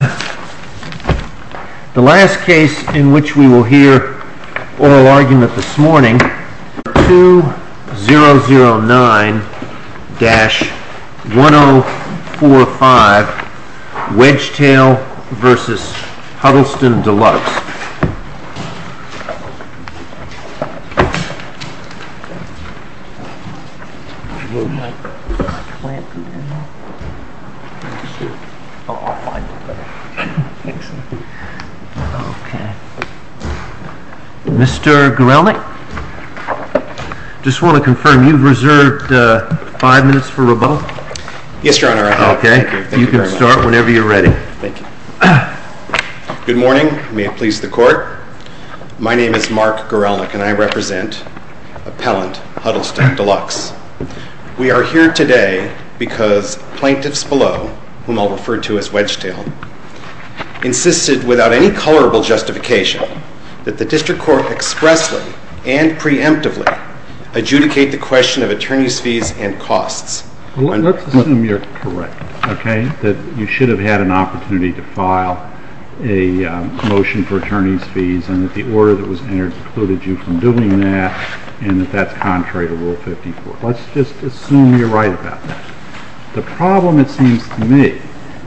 The last case in which we will hear oral argument this morning is 2009-1045 Wedgetail v. Huddleston Deluxe. Mr. Gorelnik, I just want to confirm you've reserved 5 minutes for rebuttal? Yes, your honor. Okay, you can start whenever you're ready. Thank you. Good morning, may it please the court. My name is Mark Gorelnik and I represent appellant Huddleston Deluxe. We are here today because plaintiffs below, whom I'll refer to as Wedgetail, insisted without any colorable justification that the district court expressly and preemptively adjudicate the question of attorney's fees and costs. Let's assume you're correct, okay, that you should have had an opportunity to file a motion for attorney's fees and that the order that was entered precluded you from doing that and that that's contrary to Rule 54. Let's just assume you're right about that. The problem, it seems to me,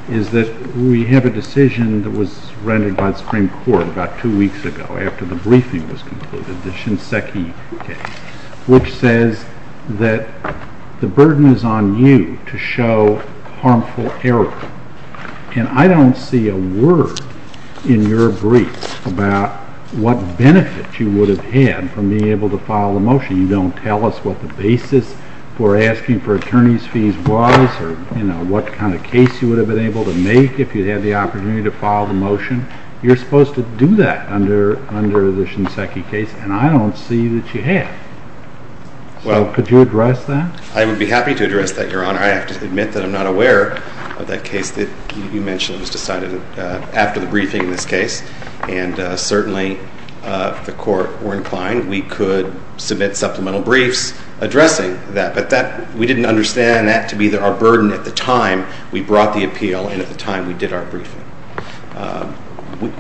is that we have a decision that was rendered by the Supreme Court about two weeks ago after the briefing was concluded, the Shinseki case, which says that the burden is on you to show harmful error. And I don't see a word in your brief about what benefit you would have had from being able to file a motion. You don't tell us what the basis for asking for attorney's fees was or what kind of case you would have been able to make if you had the opportunity to file the motion. You're supposed to do that under the Shinseki case and I don't see that you have. So could you address that? I would be happy to address that, Your Honor. I have to admit that I'm not aware of that case that you mentioned was decided after the briefing in this case, and certainly if the Court were inclined, we could submit supplemental briefs addressing that, but we didn't understand that to be our burden at the time we brought the appeal and at the time we did our briefing.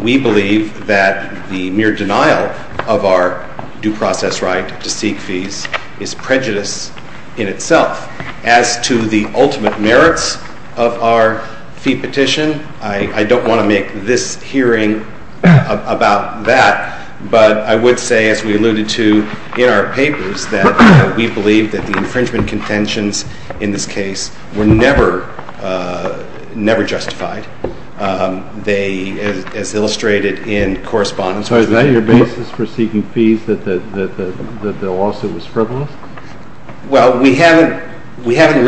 We believe that the mere denial of our due process right to seek fees is prejudice in itself. As to the ultimate merits of our fee petition, I don't want to make this hearing about that, but I would say, as we alluded to in our papers, that we believe that the infringement contentions in this case were never justified. So is that your basis for seeking fees, that the lawsuit was frivolous? Well, because we haven't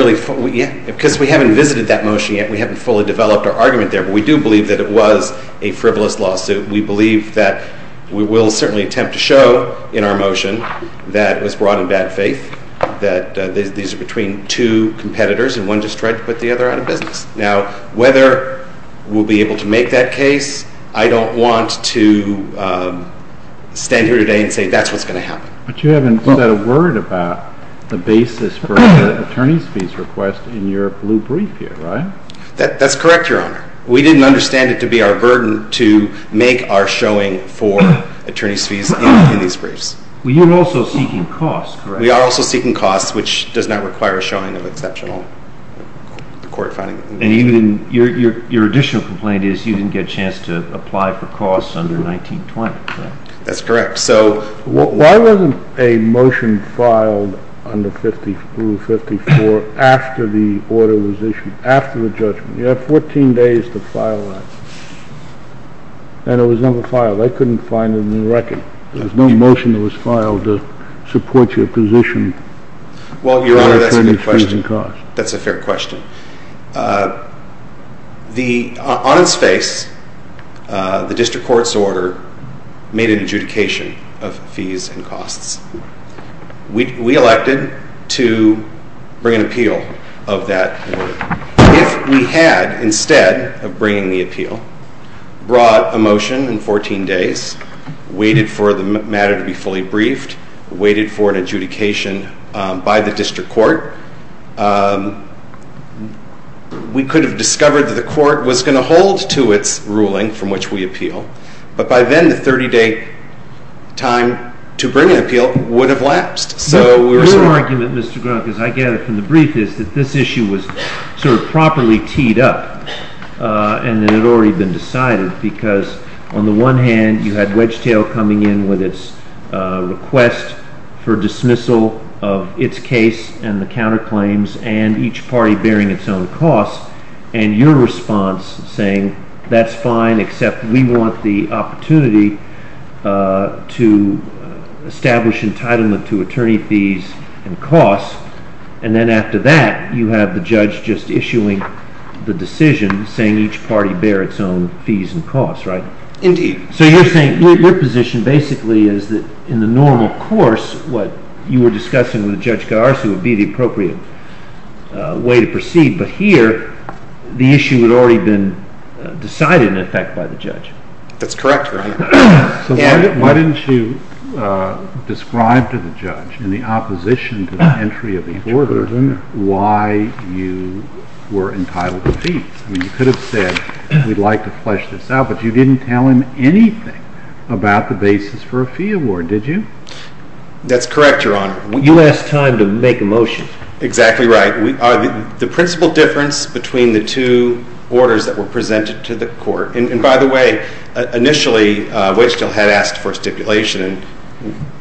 visited that motion yet, we haven't fully developed our argument there, but we do believe that it was a frivolous lawsuit. We believe that we will certainly attempt to show in our motion that it was brought in bad faith, that these are between two competitors and one just tried to put the other out of business. Now, whether we'll be able to make that case, I don't want to stand here today and say that's what's going to happen. But you haven't said a word about the basis for the attorney's fees request in your blue brief here, right? That's correct, Your Honor. We didn't understand it to be our burden to make our showing for attorney's fees in these briefs. Well, you're also seeking costs, correct? We are also seeking costs, which does not require a showing of exceptional court finding. And your additional complaint is you didn't get a chance to apply for costs under 19-20, correct? That's correct. Why wasn't a motion filed under 50-54 after the order was issued, after the judgment? You have 14 days to file that. And it was never filed. I couldn't find it in the record. There was no motion that was filed to support your position. Well, Your Honor, that's a fair question. On its face, the district court's order made an adjudication of fees and costs. We elected to bring an appeal of that order. If we had, instead of bringing the appeal, brought a motion in 14 days, waited for the matter to be fully briefed, waited for an adjudication by the district court, we could have discovered that the court was going to hold to its ruling from which we appeal. But by then, the 30-day time to bring an appeal would have lapsed. Your argument, Mr. Grunkin, as I gather from the brief, is that this issue was sort of properly teed up and that it had already been decided because, on the one hand, you had Wedgetail coming in with its request for dismissal of its case and the counterclaims, and each party bearing its own costs, and your response saying, that's fine, except we want the opportunity to establish entitlement to attorney fees and costs. And then after that, you have the judge just issuing the decision, saying each party bear its own fees and costs, right? Indeed. So you're saying your position basically is that, in the normal course, what you were discussing with Judge Garci would be the appropriate way to proceed. But here, the issue had already been decided, in effect, by the judge. That's correct, Your Honor. So why didn't you describe to the judge, in the opposition to the entry of the order, why you were entitled to fees? I mean, you could have said, we'd like to flesh this out, but you didn't tell him anything about the basis for a fee award, did you? That's correct, Your Honor. You asked time to make a motion. Exactly right. The principal difference between the two orders that were presented to the court, and by the way, initially, Waged Hill had asked for a stipulation, and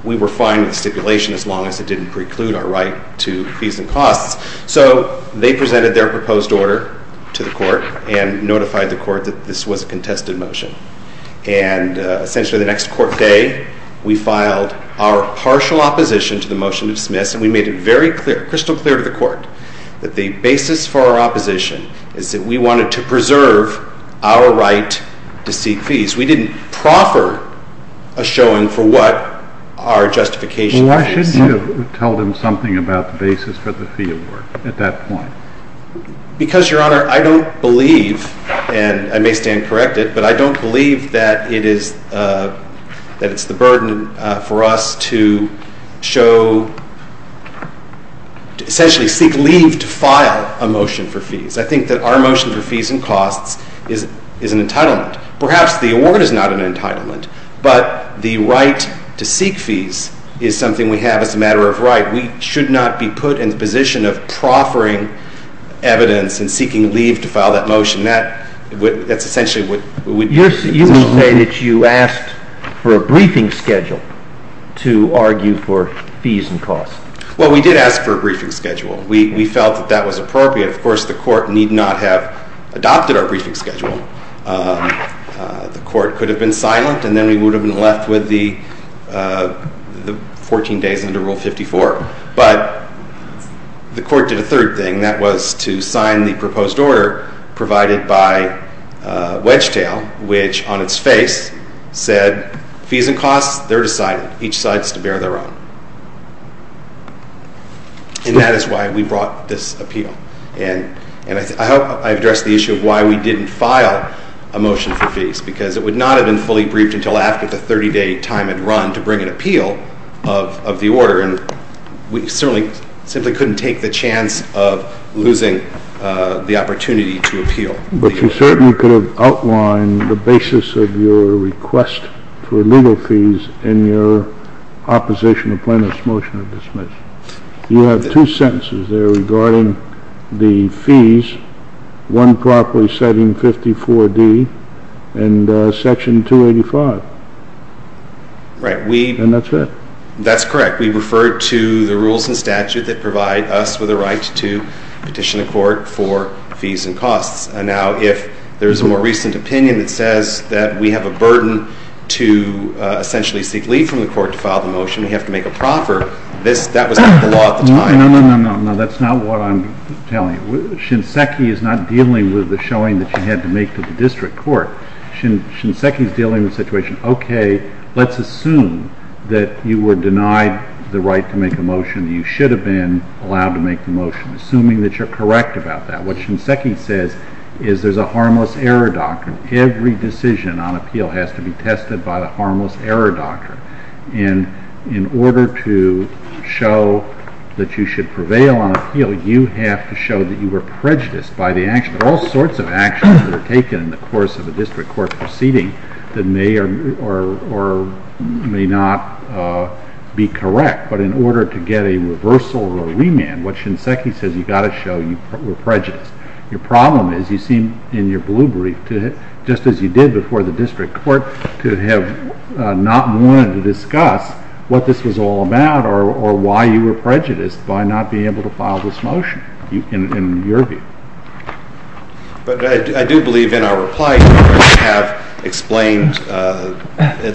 we were fine with the stipulation as long as it didn't preclude our right to fees and costs. So they presented their proposed order to the court and notified the court that this was a contested motion. And essentially the next court day, we filed our partial opposition to the motion to dismiss, and we made it crystal clear to the court that the basis for our opposition is that we wanted to preserve our right to seek fees. We didn't proffer a showing for what our justification was. Well, why shouldn't you have told him something about the basis for the fee award at that point? Because, Your Honor, I don't believe, and I may stand corrected, but I don't believe that it's the burden for us to show, essentially seek leave to file a motion for fees. I think that our motion for fees and costs is an entitlement. Perhaps the award is not an entitlement, but the right to seek fees is something we have as a matter of right. We should not be put in the position of proffering evidence and seeking leave to file that motion. That's essentially what we do. You will say that you asked for a briefing schedule to argue for fees and costs. Well, we did ask for a briefing schedule. We felt that that was appropriate. Of course, the court need not have adopted our briefing schedule. The court could have been silent, and then we would have been left with the 14 days under Rule 54. But the court did a third thing. That was to sign the proposed order provided by Wedgetail, which on its face said, fees and costs, they're decided. Each side is to bear their own. And that is why we brought this appeal. And I hope I addressed the issue of why we didn't file a motion for fees, because it would not have been fully briefed until after the 30-day time had run to bring an appeal of the order. And we certainly simply couldn't take the chance of losing the opportunity to appeal. But you certainly could have outlined the basis of your request for legal fees in your opposition to Plano's motion of dismissal. You have two sentences there regarding the fees, one properly citing 54D and Section 285. Right. And that's it. That's correct. We refer to the rules and statute that provide us with a right to petition the court for fees and costs. Now, if there's a more recent opinion that says that we have a burden to essentially seek leave from the court to file the motion, we have to make a proffer, that was not the law at the time. No, no, no, no. That's not what I'm telling you. Shinseki is not dealing with the showing that you had to make to the district court. Shinseki is dealing with the situation, okay, let's assume that you were denied the right to make a motion. You should have been allowed to make the motion, assuming that you're correct about that. What Shinseki says is there's a harmless error doctrine. Every decision on appeal has to be tested by the harmless error doctrine. And in order to show that you should prevail on appeal, you have to show that you were prejudiced by the action. There are all sorts of actions that are taken in the course of a district court proceeding that may or may not be correct. But in order to get a reversal or remand, what Shinseki says, you've got to show you were prejudiced. Your problem is you seem, in your blue brief, just as you did before the district court, to have not wanted to discuss what this was all about or why you were prejudiced by not being able to file this motion, in your view. But I do believe in our reply you have explained,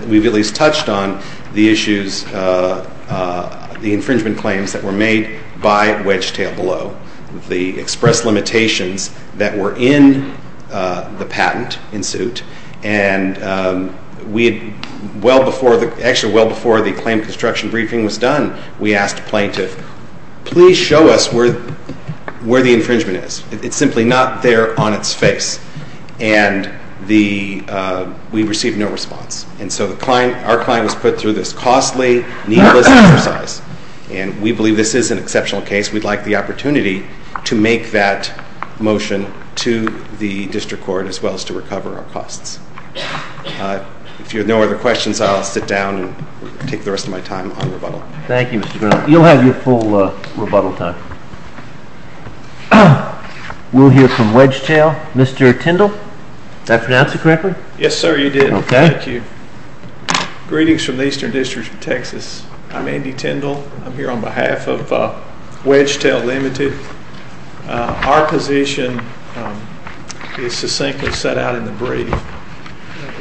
we've at least touched on the issues, the infringement claims that were made by Wedgetail Below. The express limitations that were in the patent in suit. And well before the claim construction briefing was done, we asked a plaintiff, please show us where the infringement is. It's simply not there on its face. And we received no response. And so our client was put through this costly, needless exercise. And we believe this is an exceptional case. We'd like the opportunity to make that motion to the district court as well as to recover our costs. If you have no other questions, I'll sit down and take the rest of my time on rebuttal. Thank you, Mr. Grinnell. You'll have your full rebuttal time. We'll hear from Wedgetail. Mr. Tindall, did I pronounce it correctly? Yes, sir, you did. Thank you. Greetings from the Eastern District of Texas. I'm Andy Tindall. I'm here on behalf of Wedgetail Limited. Our position is succinctly set out in the brief.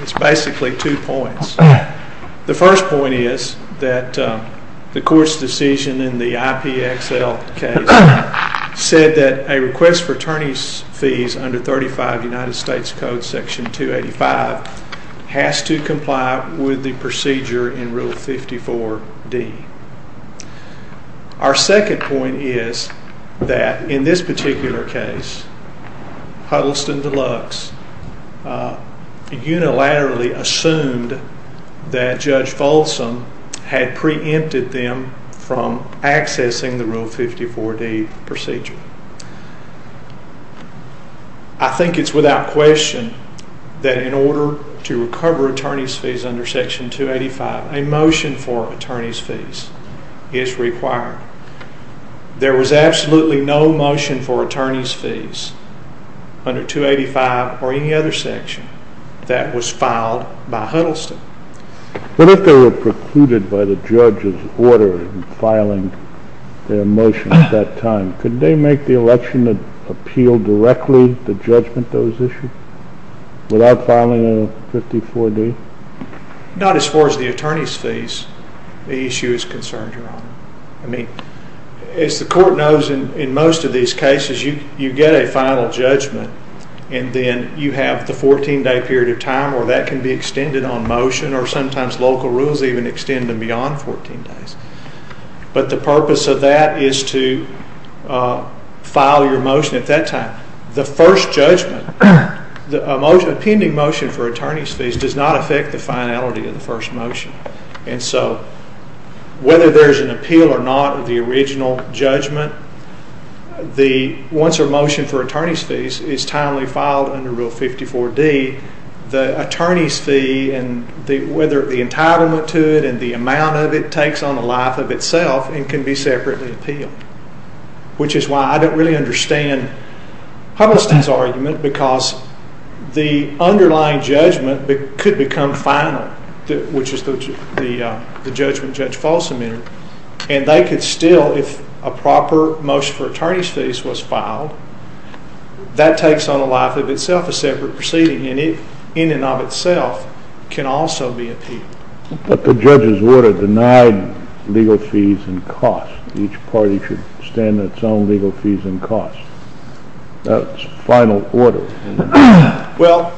It's basically two points. The first point is that the court's decision in the IPXL case said that a request for attorney's fees under 35 United States Code Section 285 has to comply with the procedure in Rule 54D. Our second point is that in this particular case, Huddleston Deluxe unilaterally assumed that Judge Folsom had preempted them from accessing the Rule 54D procedure. I think it's without question that in order to recover attorney's fees under Section 285, a motion for attorney's fees is required. There was absolutely no motion for attorney's fees under 285 or any other section that was filed by Huddleston. But if they were precluded by the judge's order in filing their motion at that time, could they make the election appeal directly to judgment those issues without filing Rule 54D? Not as far as the attorney's fees the issue is concerned, Your Honor. I mean, as the court knows in most of these cases, you get a final judgment and then you have the 14-day period of time where that can be extended on motion or sometimes local rules even extend them beyond 14 days. But the purpose of that is to file your motion at that time. The first judgment, the pending motion for attorney's fees, does not affect the finality of the first motion. And so whether there's an appeal or not of the original judgment, once a motion for attorney's fees is timely filed under Rule 54D, the attorney's fee and whether the entitlement to it and the amount of it takes on the life of itself and can be separately appealed. Which is why I don't really understand Huddleston's argument because the underlying judgment could become final, which is the judgment Judge Falsam entered, and they could still, if a proper motion for attorney's fees was filed, that takes on the life of itself, a separate proceeding, and it in and of itself can also be appealed. But the judge's order denied legal fees and costs. Each party should extend its own legal fees and costs. That's final order. Well,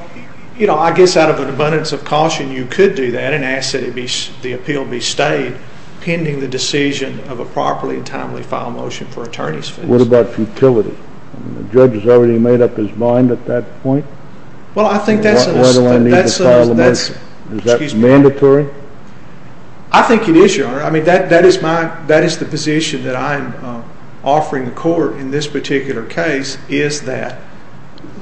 you know, I guess out of an abundance of caution you could do that and ask that the appeal be stayed pending the decision of a properly and timely file motion for attorney's fees. What about futility? The judge has already made up his mind at that point? Well, I think that's... Why do I need to file a motion? Is that mandatory? I think it is, Your Honor. I mean, that is the position that I'm offering the court in this particular case is that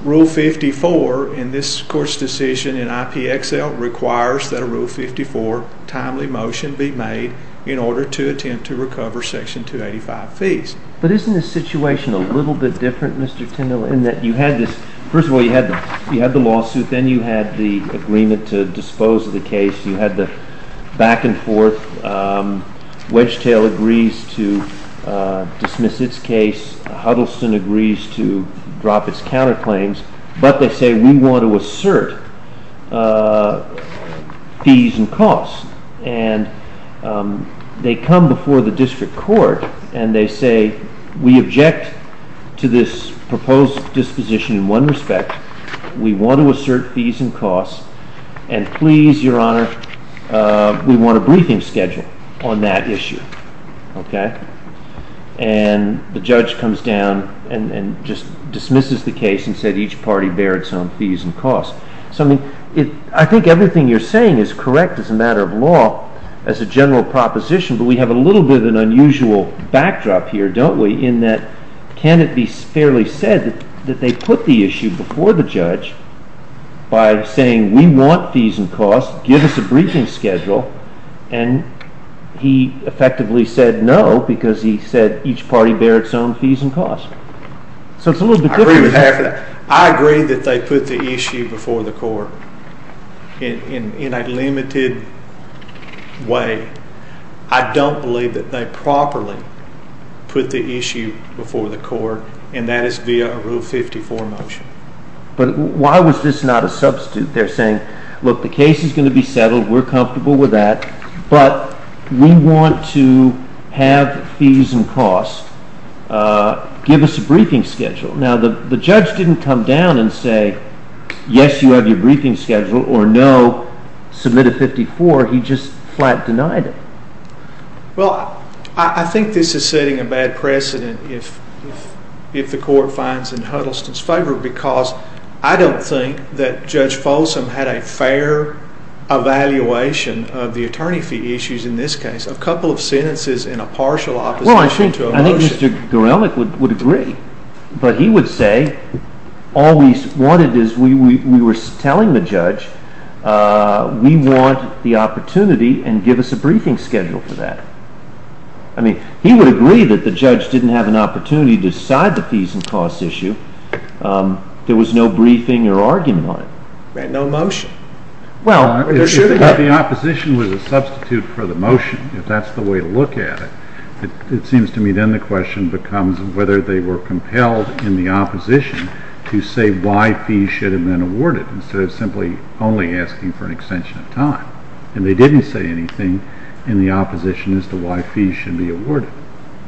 Rule 54 in this court's decision in IPXL requires that a Rule 54 timely motion be made in order to attempt to recover Section 285 fees. But isn't the situation a little bit different, Mr. Tindall, in that you had this... First of all, you had the lawsuit, then you had the agreement to dispose of the case, you had the back and forth. Wedgetail agrees to dismiss its case. Huddleston agrees to drop its counterclaims. But they say, We want to assert fees and costs. And they come before the district court and they say, We object to this proposed disposition in one respect. We want to assert fees and costs. And please, Your Honor, we want a briefing schedule on that issue. Okay? And the judge comes down and just dismisses the case and said, Each party bears its own fees and costs. So I think everything you're saying is correct as a matter of law, as a general proposition, but we have a little bit of an unusual backdrop here, don't we, in that can it be fairly said that they put the issue before the judge by saying, We want fees and costs. Give us a briefing schedule. And he effectively said, No, because he said, Each party bears its own fees and costs. So it's a little bit different. I agree with half of that. I agree that they put the issue before the court in a limited way. I don't believe that they properly put the issue before the court and that is via a Rule 54 motion. But why was this not a substitute? They're saying, Look, the case is going to be settled. We're comfortable with that. But we want to have fees and costs Give us a briefing schedule. Now the judge didn't come down and say, Yes, you have your briefing schedule or no, submit a 54. He just flat denied it. Well, I think this is setting a bad precedent if the court finds in Huddleston's favor because I don't think that Judge Folsom had a fair evaluation of the attorney fee issues in this case. A couple of sentences in a partial opposition to a motion. I think Mr. Gorelnik would agree. But he would say all we wanted is we were telling the judge we want the opportunity and give us a briefing schedule for that. I mean, he would agree that the judge didn't have an opportunity to decide the fees and costs issue. There was no briefing or argument on it. Right, no motion. If the opposition was a substitute for the motion, if that's the way to look at it, it seems to me then the question becomes whether they were compelled in the opposition to say why fees should have been awarded instead of simply only asking for an extension of time. And they didn't say anything in the opposition as to why fees should be awarded.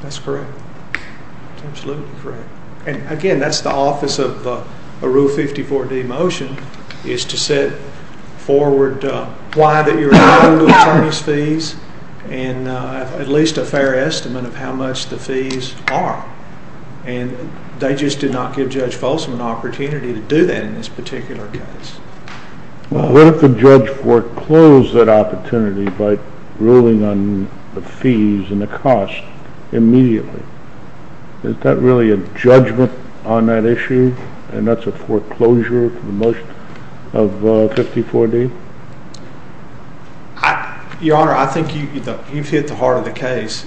That's correct. That's absolutely correct. And again, that's the office of a Rule 54-D motion is to set forward why that you're allowing the attorney's fees and at least a fair estimate of how much the fees are. And they just did not give Judge Folsom an opportunity to do that in this particular case. Well, what if the judge foreclosed that opportunity by ruling on the fees and the costs immediately? Is that really a judgment on that issue? And that's a foreclosure for the motion of Rule 54-D? Your Honor, I think you've hit the heart of the case.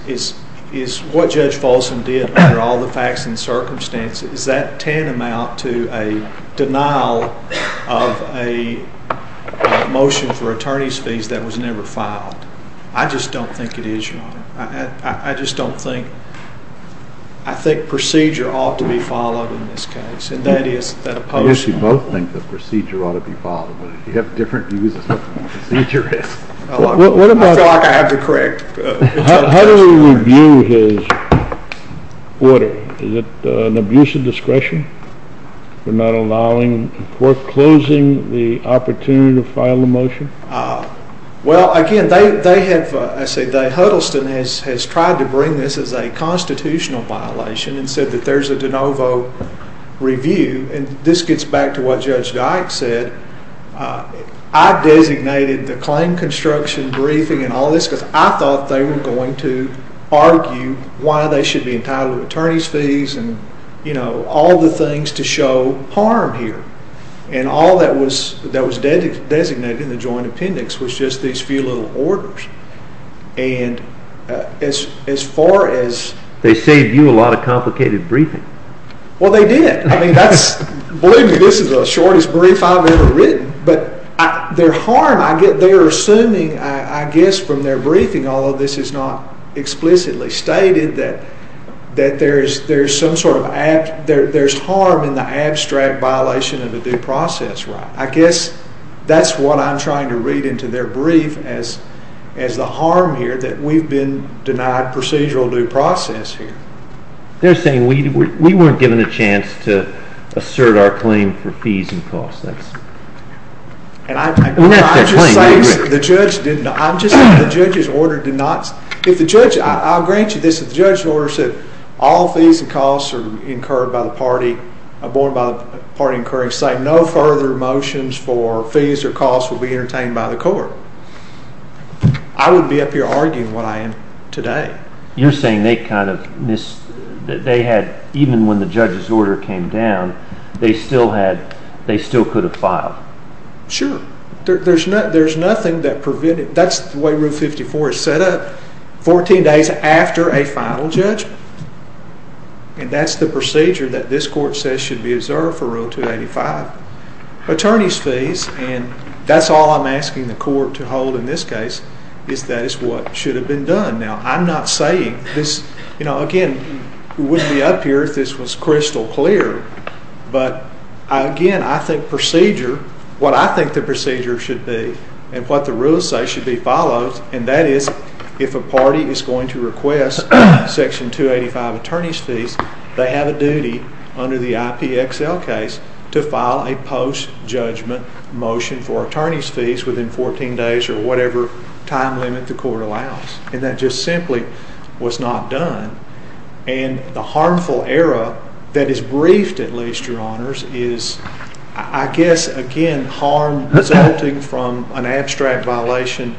What Judge Folsom did, under all the facts and circumstances, is that tantamount to a denial of a motion for attorney's fees that was never filed. I just don't think it is, Your Honor. I just don't think... I think procedure ought to be followed in this case. And that is the opposition. I guess you both think the procedure ought to be followed. You have different views as to what the procedure is. I feel like I have the correct... How do we review his order? Is it an abuse of discretion? For not allowing... For foreclosing the opportunity to file a motion? Well, again, they have... I say they... Huddleston has tried to bring this as a constitutional violation and said that there's a de novo review. And this gets back to what Judge Dyke said. I designated the claim construction briefing and all this because I thought they were going to argue why they should be entitled to attorney's fees and all the things to show harm here. And all that was designated in the joint appendix was just these few little orders. And as far as... They saved you a lot of complicated briefing. Well, they did. I mean, that's... Believe me, this is the shortest brief I've ever written. But their harm... They're assuming, I guess, from their briefing, although this is not explicitly stated, that there's some sort of... There's harm in the abstract violation of a due process right. I guess that's what I'm trying to read into their brief as the harm here that we've been denied procedural due process here. They're saying we weren't given a chance to assert our claim for fees and costs. And that's their claim. I'm just saying the judge's order did not... If the judge... I'll grant you this. If the judge's order said all fees and costs are incurred by the party, are borne by the party incurring, saying no further motions for fees or costs will be entertained by the court, I wouldn't be up here arguing what I am today. You're saying they kind of missed... They had... Even when the judge's order came down, they still could have filed. Sure. There's nothing that prevented... That's the way Rule 54 is set up. 14 days after a final judgment. And that's the procedure that this court says should be observed for Rule 285. Attorneys' fees, and that's all I'm asking the court to hold in this case, is that it's what should have been done. Now, I'm not saying this... Again, we wouldn't be up here if this was crystal clear. But, again, I think procedure... What I think the procedure should be and what the rules say should be followed, and that is if a party is going to request Section 285 attorneys' fees, they have a duty under the IPXL case to file a post-judgment motion for attorneys' fees within 14 days or whatever time limit the court allows. And that just simply was not done. And the harmful error that is briefed, at least, Your Honors, is, I guess, again, harm resulting from an abstract violation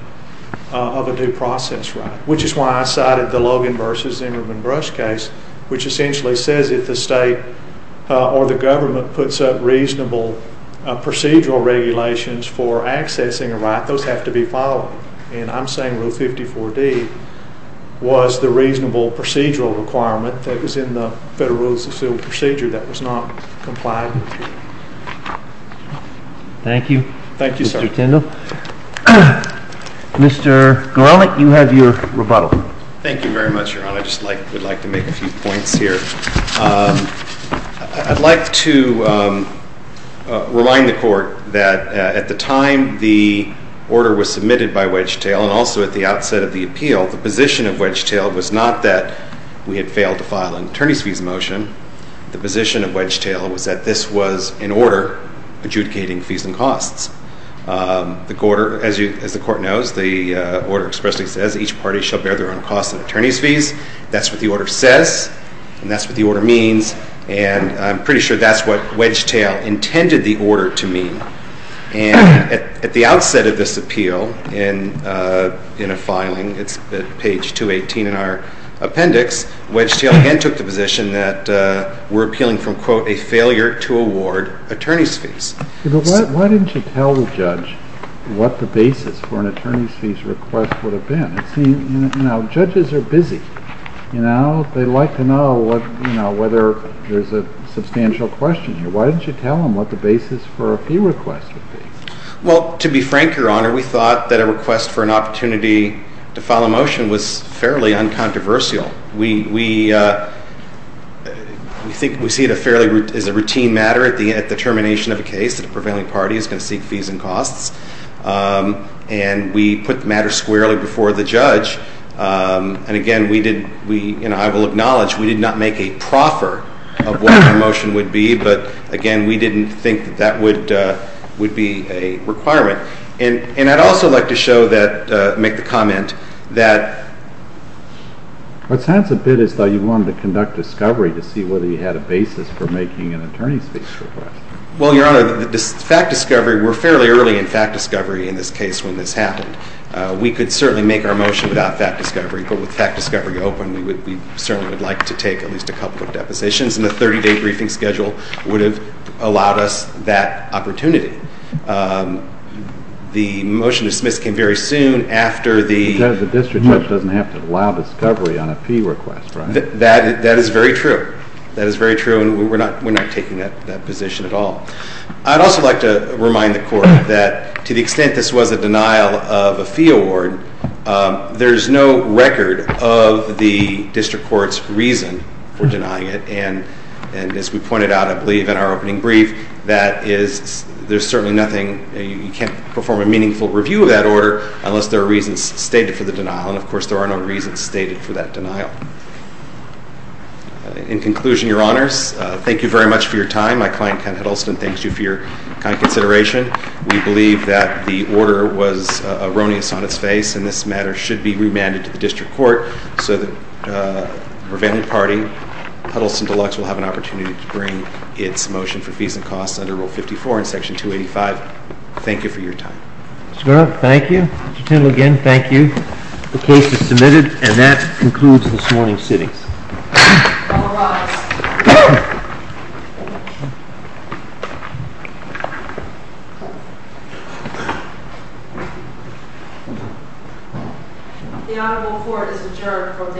of a due process right, which is why I cited the Logan v. Zimmerman-Brush case, which essentially says if the state or the government puts up reasonable procedural regulations for accessing a right, those have to be followed. And I'm saying Rule 54D was the reasonable procedural requirement that was in the Federal Rules of Procedure that was not complied with. Thank you. Thank you, sir. Mr. Garlick, you have your rebuttal. Thank you very much, Your Honor. I just would like to make a few points here. I'd like to remind the court that at the time the order was submitted by Wedgetail and also at the outset of the appeal, the position of Wedgetail was not that we had failed to file an attorneys' fees motion. The position of Wedgetail was that this was an order adjudicating fees and costs. As the court knows, the order expressly says each party shall bear their own costs and attorneys' fees. That's what the order says. And that's what the order means. And I'm pretty sure that's what Wedgetail intended the order to mean. And at the outset of this appeal in a filing, it's at page 218 in our appendix, Wedgetail again took the position that we're appealing from, quote, a failure to award attorneys' fees. Why didn't you tell the judge what the basis for an attorneys' fees request would have been? You know, judges are busy. You know, they like to know whether there's a substantial question here. Why didn't you tell them what the basis for a fee request would be? Well, to be frank, Your Honor, we thought that a request for an opportunity to file a motion was fairly uncontroversial. We think we see it as a routine matter at the termination of a case that a prevailing party is going to seek fees and costs. And we put the matter squarely before the judge. And, again, I will acknowledge we did not make a proffer of what our motion would be, but, again, we didn't think that that would be a requirement. And I'd also like to show that, make the comment that— What sounds a bit as though you wanted to conduct discovery to see whether you had a basis for making an attorneys' fees request. Well, Your Honor, the fact discovery, we're fairly early in fact discovery in this case when this happened. We could certainly make our motion without fact discovery, but with fact discovery open, we certainly would like to take at least a couple of depositions, and the 30-day briefing schedule would have allowed us that opportunity. The motion to dismiss came very soon after the— Because the district judge doesn't have to allow discovery on a fee request, right? That is very true. That is very true, and we're not taking that position at all. I'd also like to remind the Court that to the extent this was a denial of a fee award, there is no record of the district court's reason for denying it, and as we pointed out, I believe, in our opening brief, that there's certainly nothing—you can't perform a meaningful review of that order unless there are reasons stated for the denial, and, of course, there are no reasons stated for that denial. In conclusion, Your Honors, thank you very much for your time. My client, Ken Huddleston, thanks you for your kind consideration. We believe that the order was erroneous on its face, and this matter should be remanded to the district court so that the prevailing party, Huddleston Deluxe, will have an opportunity to bring its motion for fees and costs under Rule 54 in Section 285. Thank you for your time. Mr. Grunt, thank you. Mr. Tindall, again, thank you. The case is submitted, and that concludes this morning's sittings. All rise. The Honorable Court is adjourned from day to day.